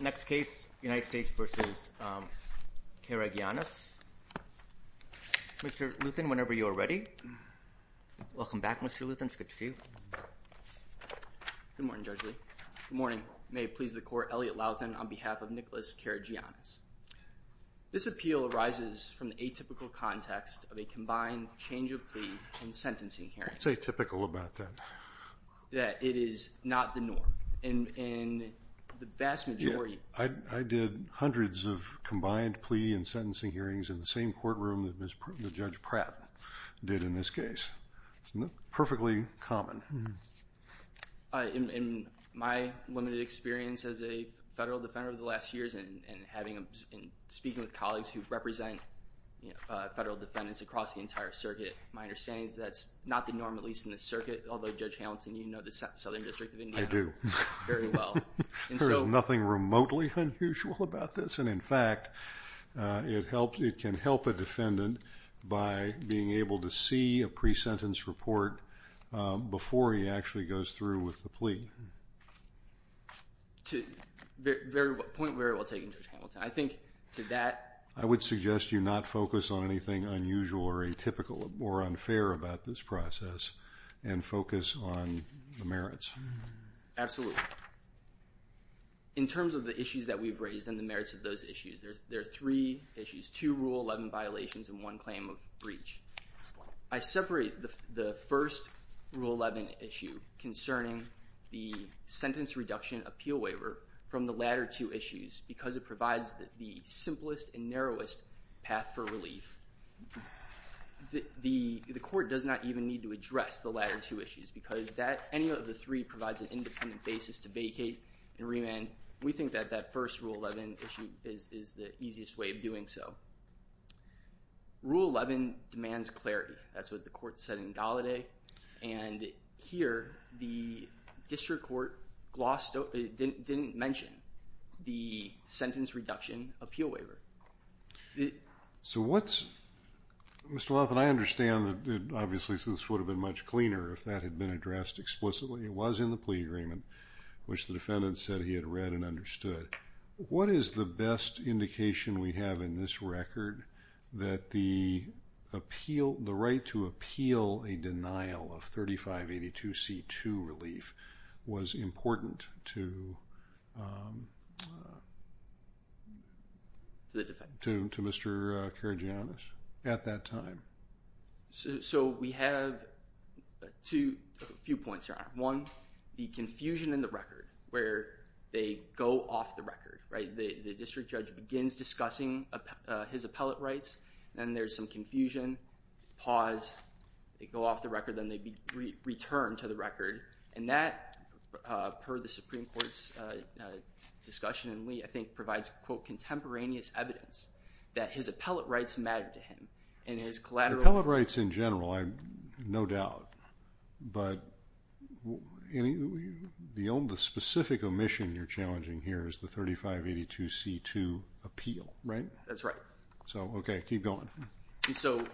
Next case, United States v. Karagianis. Mr. Luthen, whenever you are ready. Welcome back, Mr. Luthen. It's good to see you. Good morning, Judge Lee. Good morning. May it please the Court, Elliot Laughton on behalf of Nicholas Karagianis. This appeal arises from the atypical context of a combined change of plea and sentencing hearing. What's atypical about that? That it is not the norm in the vast majority... I did hundreds of combined plea and sentencing hearings in the same courtroom that Judge Pratt did in this case. It's not perfectly common. In my limited experience as a federal defender over the last years and speaking with colleagues who represent federal defendants across the entire circuit, my understanding is that's not the norm, at least in this circuit, although Judge Hamilton, you know the Southern District of Indiana... I do... very well. There's nothing remotely unusual about this, and in fact, it can help a defendant by being able to see a pre-sentence report before he actually goes through with the plea. Point very well taken, Judge Hamilton. I think to that... I would suggest you not focus on anything unusual or atypical or unfair about this process and focus on the merits. Absolutely. In terms of the issues that we've raised and the merits of those issues, there are three issues, two Rule 11 violations and one claim of breach. I separate the first Rule 11 issue concerning the Sentence Reduction Appeal Waiver from the latter two issues because it provides the simplest and narrowest path for relief. The court does not even need to address the latter two issues because any of the three provides an independent basis to vacate and remand. We think that that first Rule 11 issue is the easiest way of doing so. Rule 11 demands clarity. That's what the court said in Gallaudet, and here the District So what's... Mr. Lawton, I understand that obviously this would have been much cleaner if that had been addressed explicitly. It was in the plea agreement, which the defendant said he had read and understood. What is the best indication we have in this record that the right to appeal a denial of 3582C2 relief was important to Mr. Karagiannis at that time? So we have a few points here. One, the confusion in the record where they go off the record. The District Judge begins discussing his appellate rights, and then there's some confusion, pause, they go off the record, then they return to the record, and that, per the Supreme Court's discussion in Lee, I think provides, quote, contemporaneous evidence that his appellate rights mattered to him and his collateral... Appellate rights in general, no doubt, but the only specific omission you're challenging here is the 3582C2 appeal, right? That's right. So, okay, keep going. So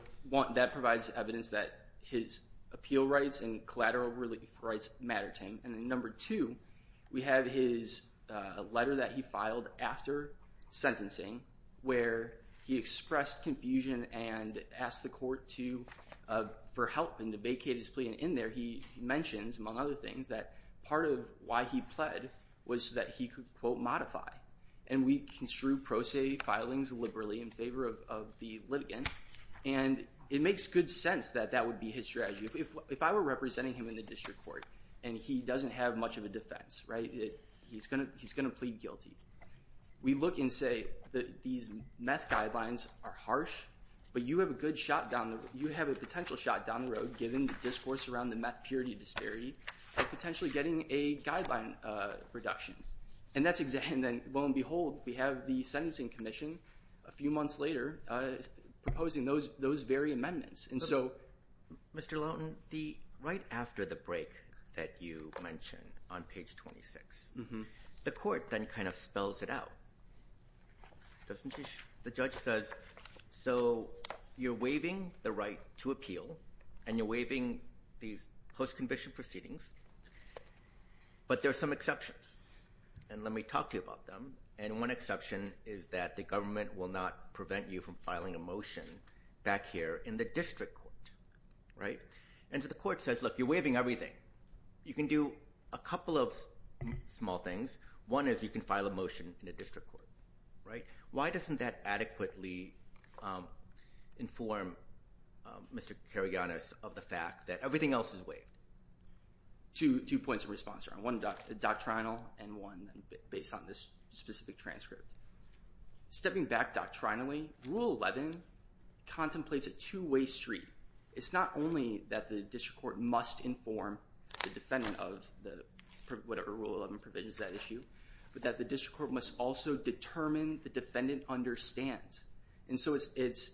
that provides evidence that his appeal rights and collateral relief rights mattered to him, and then number two, we have his letter that he filed after sentencing where he expressed confusion and asked the court for help in the vacated plea, and in there he mentions, among other things, that part of why he pled was that he could, quote, modify, and we construe pro se filings liberally in favor of the litigant, and it makes good sense that that would be his strategy. If I were representing him in the district court and he doesn't have much of a defense, right, he's going to plead guilty. We look and say that these meth guidelines are harsh, but you have a good shot down the... you have a potential shot down the road, given the discourse around the meth purity disparity, and potentially getting a guideline reduction, and that's... and then, lo and behold, we have the sentencing commission a few months later proposing those very amendments, and so... Mr. Lawton, the... right after the break that you mentioned on page 26, the court then kind of spells it out, doesn't it? The judge says, so you're waiving the right to appeal, and you're waiving these post-conviction proceedings, but there are some exceptions, and let me talk to you about them, and one exception is that the government will not prevent you from filing a motion back here in the district court, right? And so the court says, look, you're waiving everything. You can do a couple of small things. One is you can file a motion in the district court, right? Why doesn't that adequately inform Mr. Karygiannis of the fact that everything else is waived? Two points of response, one doctrinal, and one based on this specific transcript. Stepping back doctrinally, Rule 11 contemplates a two-way street. It's not only that the district court must inform the defendant of the... whatever Rule 11 provisions that issue, but that the district court must also determine the defendant understands, and so it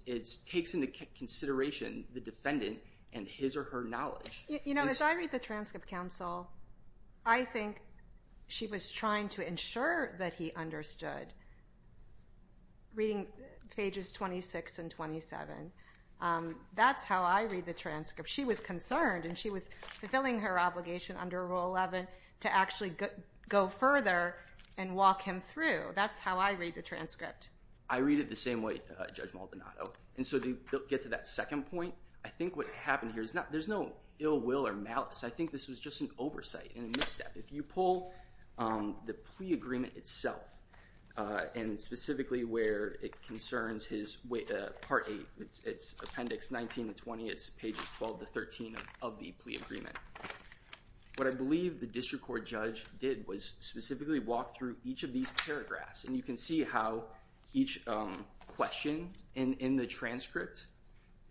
takes into consideration the defendant and his or her knowledge. You know, as I read the transcript, counsel, I think she was trying to ensure that he understood. Reading pages 26 and 27, that's how I read the transcript. She was concerned, and she was fulfilling her obligation under Rule 11 to actually go further and walk him through. That's how I read the transcript. I read it the same way, Judge Maldonado. And so to get to that second point, I think what happened here is there's no ill will or malice. I think this was just an oversight and a misstep. If you pull the plea agreement itself, and specifically where it concerns his Part 8, it's Appendix 19 to 20. It's pages 12 to 13 of the plea agreement. What I believe the district court judge did was specifically walk through each of these paragraphs, and you can see how each question in the transcript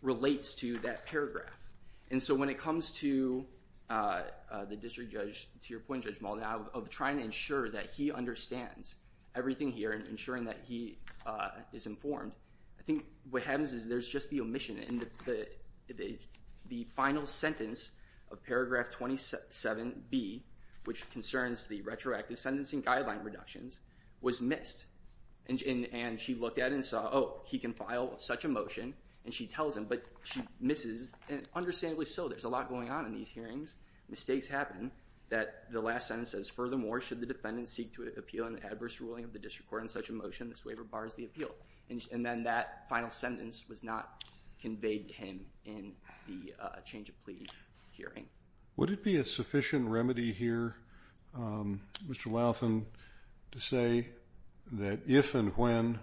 relates to that paragraph. And so when it comes to the district judge, to your point, Judge Maldonado, of trying to ensure that he understands everything here and ensuring that he is informed, I think what happens is there's just the omission. The final sentence of Paragraph 27B, which concerns the retroactive sentencing guideline reductions, was missed. And she looked at it and saw, oh, he can file such a motion, and she tells him, but she misses. And understandably so. There's a lot going on in these hearings. Mistakes happen that the last sentence says, furthermore, should the defendant seek to appeal an adverse ruling of the district court on such a motion, this waiver bars the appeal. And then that final sentence was not conveyed to him in the change of plea hearing. Would it be a sufficient remedy here, Mr. Louthan, to say that if and when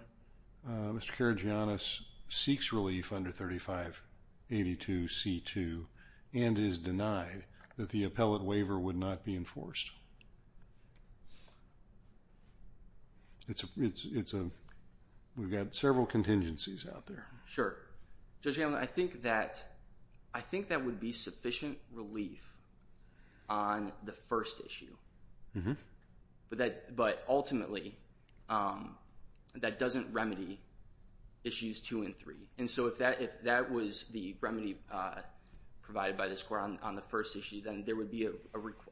Mr. Karagiannis seeks relief under 3582C2 and is denied, that the appellate waiver would not be enforced? We've got several contingencies out there. Sure. Judge Hamilton, I think that would be sufficient relief on the first issue. Mm-hmm. But ultimately, that doesn't remedy issues two and three. And so if that was the remedy provided by this court on the first issue, then there would be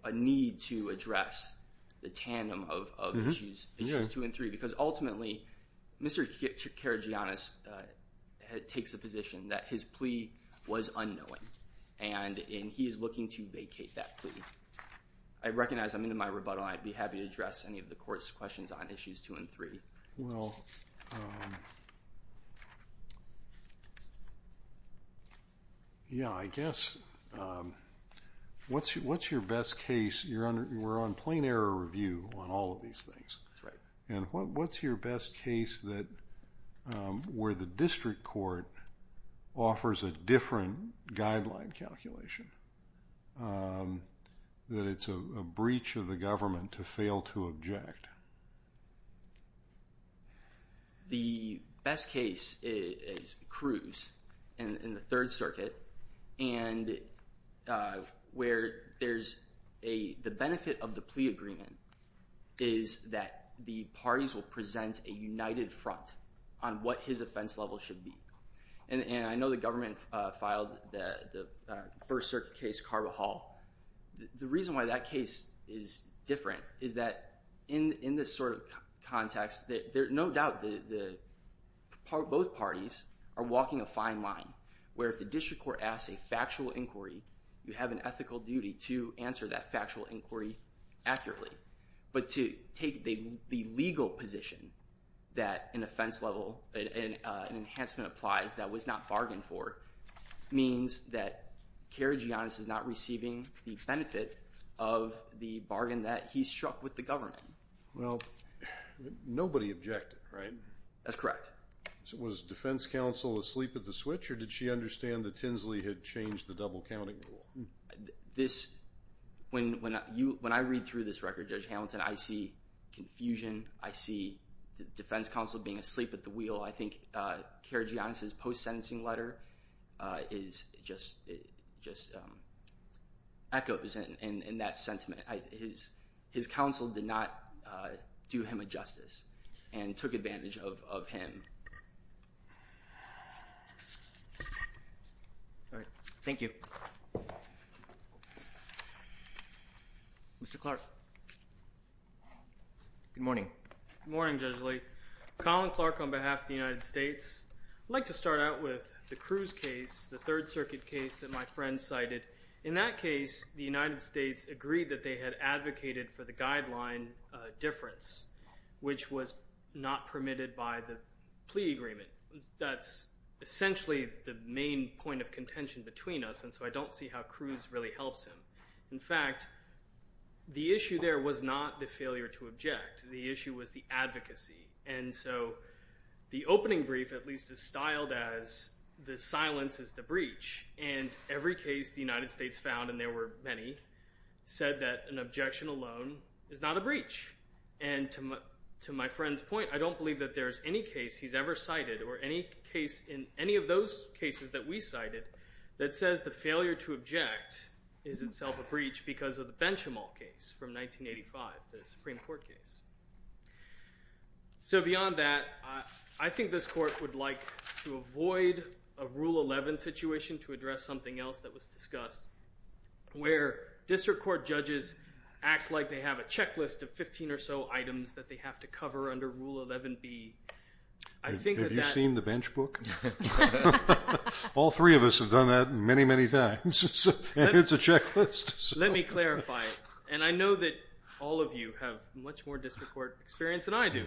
a need to address the tandem of issues two and three. Because ultimately, Mr. Karagiannis takes the position that his plea was unknowing, and he is looking to vacate that plea. I recognize I'm into my rebuttal, and I'd be happy to address any of the court's questions on issues two and three. Well, yeah, I guess, what's your best case? We're on plain error review on all of these things. That's right. And what's your best case where the district court offers a different guideline calculation, that it's a breach of the government to fail to object? The best case is Cruz in the Third Circuit, where the benefit of the plea agreement is that the parties will present a united front on what his offense level should be. And I know the government filed the First Circuit case, Carvajal. The reason why that case is different is that in this sort of context, no doubt both parties are walking a fine line, where if the district court asks a factual inquiry, you have an ethical duty to answer that factual inquiry accurately. But to take the legal position that an offense level, an enhancement applies that was not bargained for, means that Carvajal is not receiving the benefit of the bargain that he struck with the government. Well, nobody objected, right? That's correct. Was defense counsel asleep at the switch, or did she understand that Tinsley had changed the double counting rule? This, when I read through this record, Judge Hamilton, I see confusion. I see the defense counsel being asleep at the wheel. I think Keira Giannis's post-sentencing letter is just, it just echoes in that sentiment. His counsel did not do him a justice and took advantage of him. All right, thank you. Mr. Clark, good morning. Good morning, Judge Lee. Colin Clark on behalf of the United States. I'd like to start out with the Cruz case, the Third Circuit case that my friend cited. In that case, the United States agreed that they had advocated for the guideline difference, which was not permitted by the plea agreement. That's essentially the main point of contention between us, and so I don't see how Cruz really helps him. In fact, the issue there was not the failure to object. The issue was the advocacy. And so the opening brief, at least, is styled as the silence is the breach. And every case the United States found, and there were many, said that an objection alone is not a breach. And to my friend's point, I don't believe that there's any case he's ever cited, or any case in any of those cases that we cited, that says the failure to object is itself a breach because of the Benchimol case from 1985, the Supreme Court case. So beyond that, I think this court would like to avoid a Rule 11 situation to address something else that was discussed, where district court judges act like they have a checklist of 15 or so items that they have to cover under Rule 11B. Have you seen the bench book? All three of us have done that many, many times. It's a checklist. Let me clarify. And I know that all of you have much more district court experience than I do.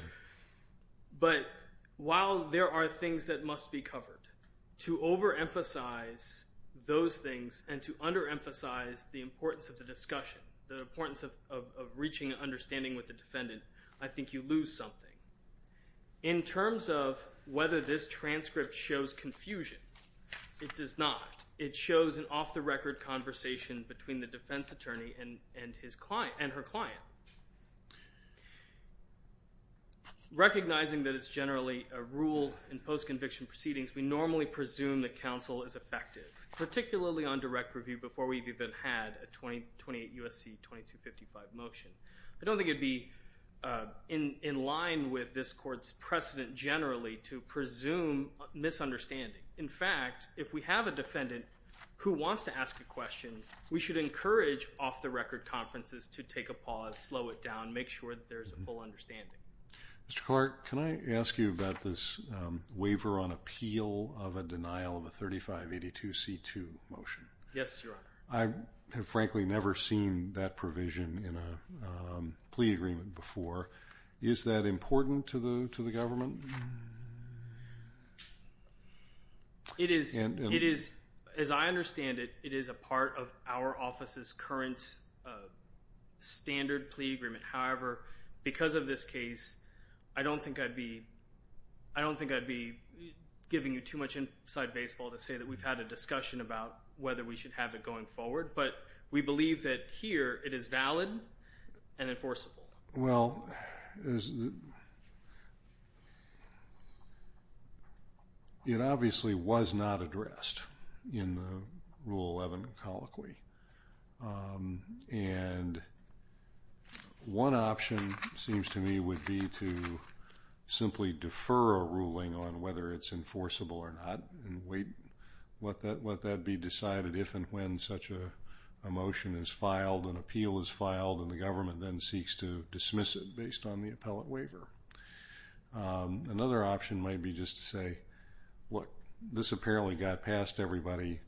But while there are things that must be covered, to overemphasize those things, and to underemphasize the importance of the discussion, the importance of reaching understanding with the defendant, I think you lose something. In terms of whether this transcript shows confusion, it does not. It shows an off-the-record conversation between the defense attorney and her client. Recognizing that it's generally a rule in post-conviction proceedings, we normally presume that counsel is effective, particularly on direct review, before we've even had a 2028 U.S.C. 2255 motion. I don't think it'd be in line with this court's precedent generally to presume misunderstanding. In fact, if we have a defendant who wants to ask a question, we should encourage off-the-record conferences to take a pause, slow it down, make sure that there's a full understanding. Mr. Clark, can I ask you about this waiver on appeal of a denial of a 3582C2 motion? Yes, Your Honor. I have frankly never seen that provision in a plea agreement before. Is that important to the government? As I understand it, it is a part of our office's current standard plea agreement. However, because of this case, I don't think I'd be giving you too much inside baseball to say we've had a discussion about whether we should have it going forward. But we believe that here it is valid and enforceable. Well, it obviously was not addressed in the Rule 11 colloquy. And one option seems to me would be to simply defer a ruling on whether it's enforceable or not and wait, let that be decided if and when such a motion is filed, an appeal is filed, and the government then seeks to dismiss it based on the appellate waiver. Another option might be just to say, look, this apparently got past everybody.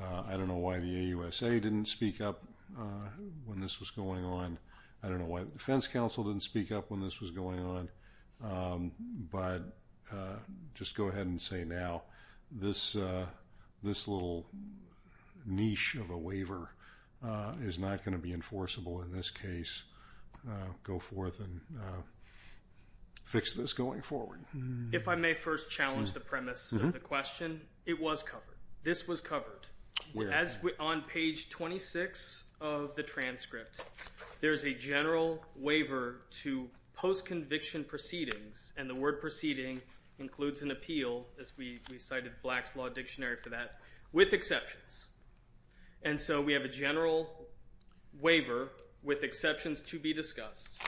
I don't know why the AUSA didn't speak up when this was going on. I don't know why the defense counsel didn't speak up when this was going on. But just go ahead and say now this little niche of a waiver is not going to be enforceable in this case. Go forth and fix this going forward. If I may first challenge the premise of the question, it was covered. This was covered. As on page 26 of the transcript, there's a general waiver to post-conviction proceedings, and the word proceeding includes an appeal, as we cited Black's Law Dictionary for that, with exceptions. And so we have a general waiver with exceptions to be discussed.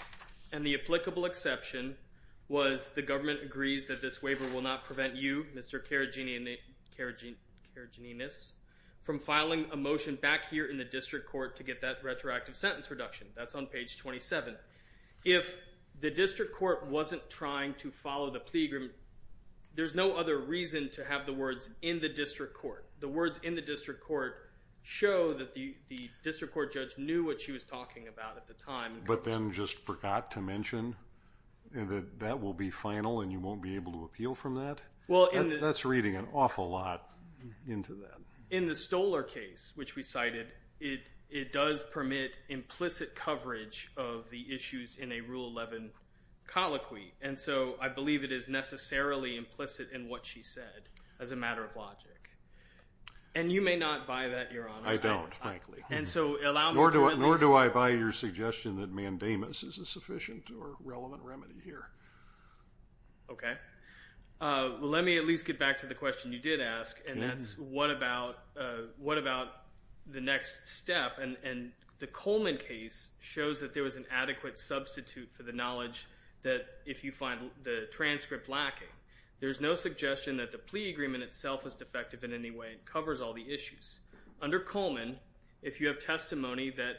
And the applicable exception was the government agrees that this waiver will not prevent you, Mr. Karagiannis, from filing a motion back here in the district court to get that retroactive sentence reduction. That's on page 27. If the district court wasn't trying to follow the plea agreement, there's no other reason to have the words in the district court. The words in the district court show that the district court judge knew what she was talking about at the time. But then just forgot to mention that that will be final and you won't be able to appeal from that? That's reading an awful lot into that. In the Stoller case, which we cited, it does permit implicit coverage of the issues in a Rule 11 colloquy. And so I believe it is necessarily implicit in what she said, as a matter of logic. And you may not buy that, Your Honor. I don't, frankly. Nor do I buy your suggestion that mandamus is a sufficient or relevant remedy here. Okay. Let me at least get back to the question you did ask, and that's what about the next step? And the Coleman case shows that there was an adequate substitute for the knowledge that if you find the transcript lacking. There's no suggestion that the plea agreement itself was defective in any way. It covers all the issues. Under Coleman, if you have testimony that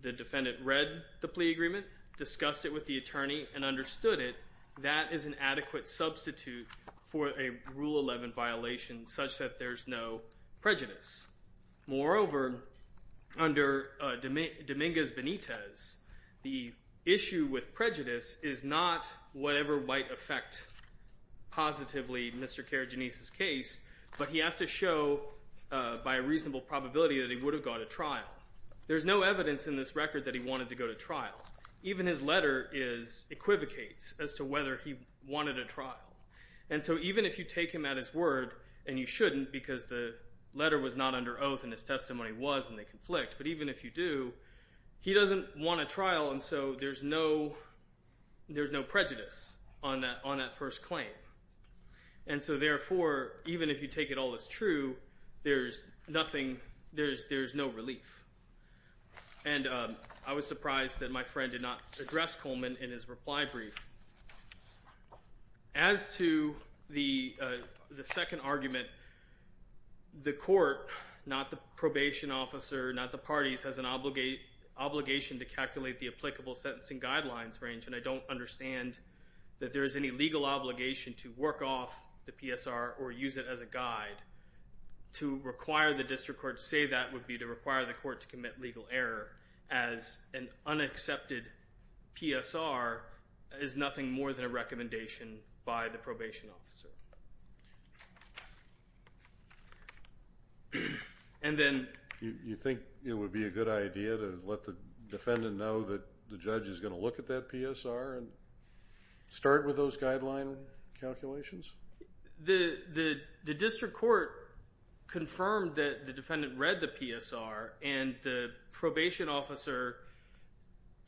the defendant read the plea agreement, discussed it with the attorney, and understood it, that is an adequate substitute for a Rule 11 violation such that there's no prejudice. Moreover, under Dominguez-Benitez, the issue with prejudice is not whatever might affect positively Mr. Karagiannis' case, but he has to show by a reasonable probability that he would go to trial. There's no evidence in this record that he wanted to go to trial. Even his letter equivocates as to whether he wanted a trial. And so even if you take him at his word, and you shouldn't because the letter was not under oath and his testimony was and they conflict, but even if you do, he doesn't want a trial, and so there's no prejudice on that first claim. And so therefore, even if you take it all as true, there's nothing, there's no relief. And I was surprised that my friend did not address Coleman in his reply brief. As to the second argument, the court, not the probation officer, not the parties, has an obligation to calculate the applicable sentencing guidelines range, and I don't understand that there is any legal obligation to work off the PSR or use it as a guide. To require the district court to say that would be to require the court to commit legal error as an unaccepted PSR is nothing more than a recommendation by the probation officer. And then you think it would be a good idea to let the defendant know that the judge is going to look at that PSR and start with those guideline calculations? The district court confirmed that the defendant read the PSR, and the probation officer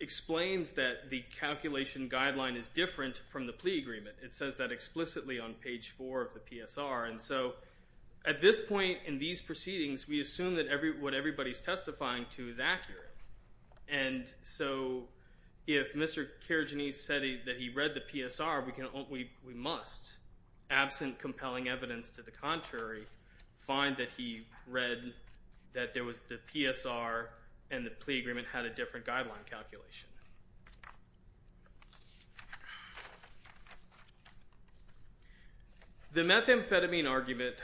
explains that the calculation guideline is different from the plea agreement. It says that explicitly on page four of the PSR, and so at this point in these proceedings, we assume that what everybody's testifying to is accurate. And so, if Mr. Karajanis said that he read the PSR, we must, absent compelling evidence to the contrary, find that he read that the PSR and the plea agreement had a different guideline calculation. The methamphetamine argument,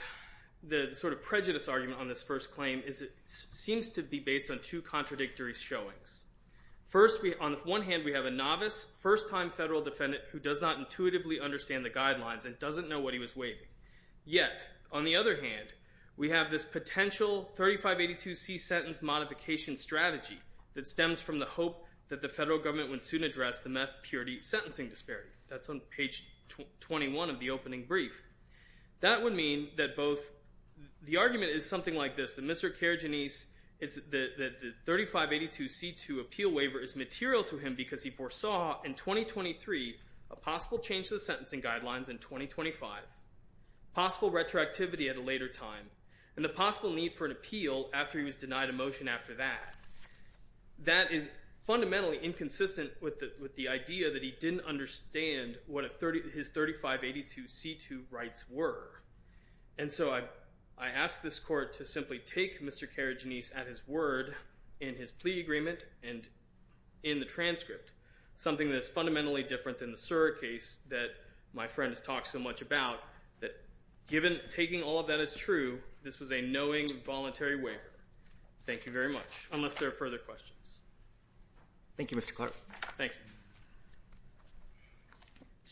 the sort of prejudice argument on this first claim, is it seems to be based on two contradictory showings. First, on one hand, we have a novice, first-time federal defendant who does not intuitively understand the guidelines and doesn't know what he was waiving. Yet, on the other hand, we have this potential 3582C sentence modification strategy that stems from the hope that the federal judge would be willing to address the methamphetamine sentencing disparity. That's on page 21 of the opening brief. That would mean that both the argument is something like this, that Mr. Karajanis, is that the 3582C2 appeal waiver is material to him because he foresaw in 2023 a possible change to the sentencing guidelines in 2025, possible retroactivity at a later time, and the possible need for an appeal after he was denied a motion after that. That is fundamentally inconsistent with the idea that he didn't understand what his 3582C2 rights were. And so, I asked this court to simply take Mr. Karajanis at his word in his plea agreement and in the transcript, something that is fundamentally different than the Sura case that my friend has talked so much about, that given taking all of that as true, this was a knowing, voluntary waiver. Thank you very much, unless there are further questions. Thank you, Mr. Carter. Thank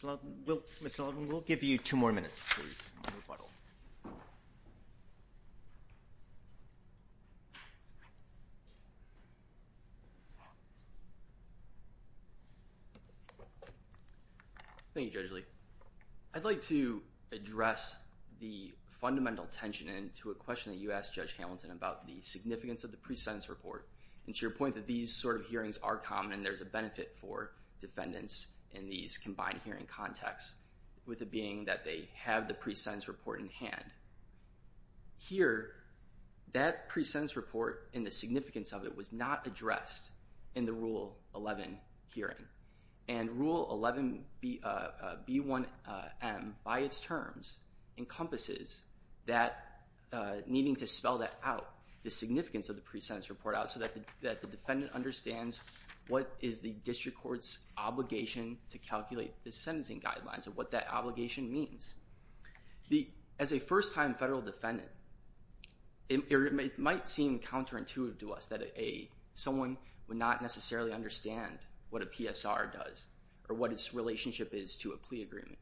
you. Mr. Sullivan, we'll give you two more minutes. Please. Thank you, Judge Lee. I'd like to address the fundamental tension into a question that you asked Judge Hamilton about the significance of the pre-sentence report, and to your point that these sort of hearings are common and there's a benefit for defendants in these combined hearing contexts, with it being that they have the pre-sentence report in hand. Here, that pre-sentence report and the significance of it was not addressed in the Rule 11 hearing. And Rule 11B1M, by its terms, encompasses needing to spell that out, the significance of the pre-sentence report out, so that the defendant understands what is the district court's obligation to calculate the sentencing guidelines and what that obligation means. As a first-time federal defendant, it might seem counterintuitive to us that someone would not necessarily understand what a PSR does, or what its relationship is to a plea agreement.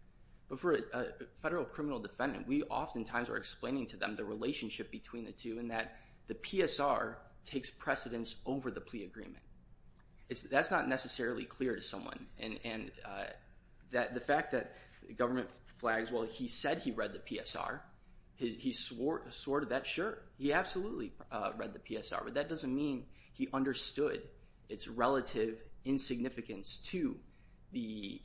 But for a federal criminal defendant, we oftentimes are explaining to them the relationship between the two, and that the PSR takes precedence over the plea agreement. That's not necessarily clear to someone, and the fact that the government flags, well, he said he read the PSR, he swore to that, sure, he absolutely read the PSR, but that doesn't mean he understood its relative insignificance to the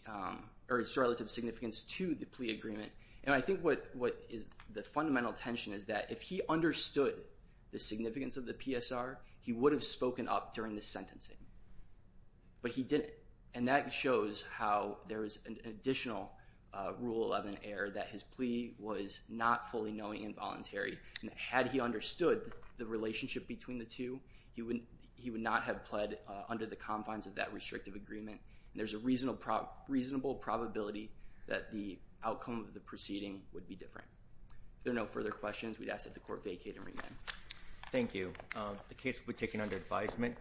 plea agreement. And I think what is the fundamental tension is that if he understood the significance of the PSR, he would have spoken up during the sentencing. But he didn't. And that shows how there is an additional Rule 11 error that his plea was not fully knowing and voluntary. And had he understood the relationship between the two, he would not have pled under the confines of that restrictive agreement. And there's a reasonable probability that the outcome of the proceeding would be different. If there are no further questions, we'd ask that the court vacate and remain. Thank you. The case will be taken under advisement.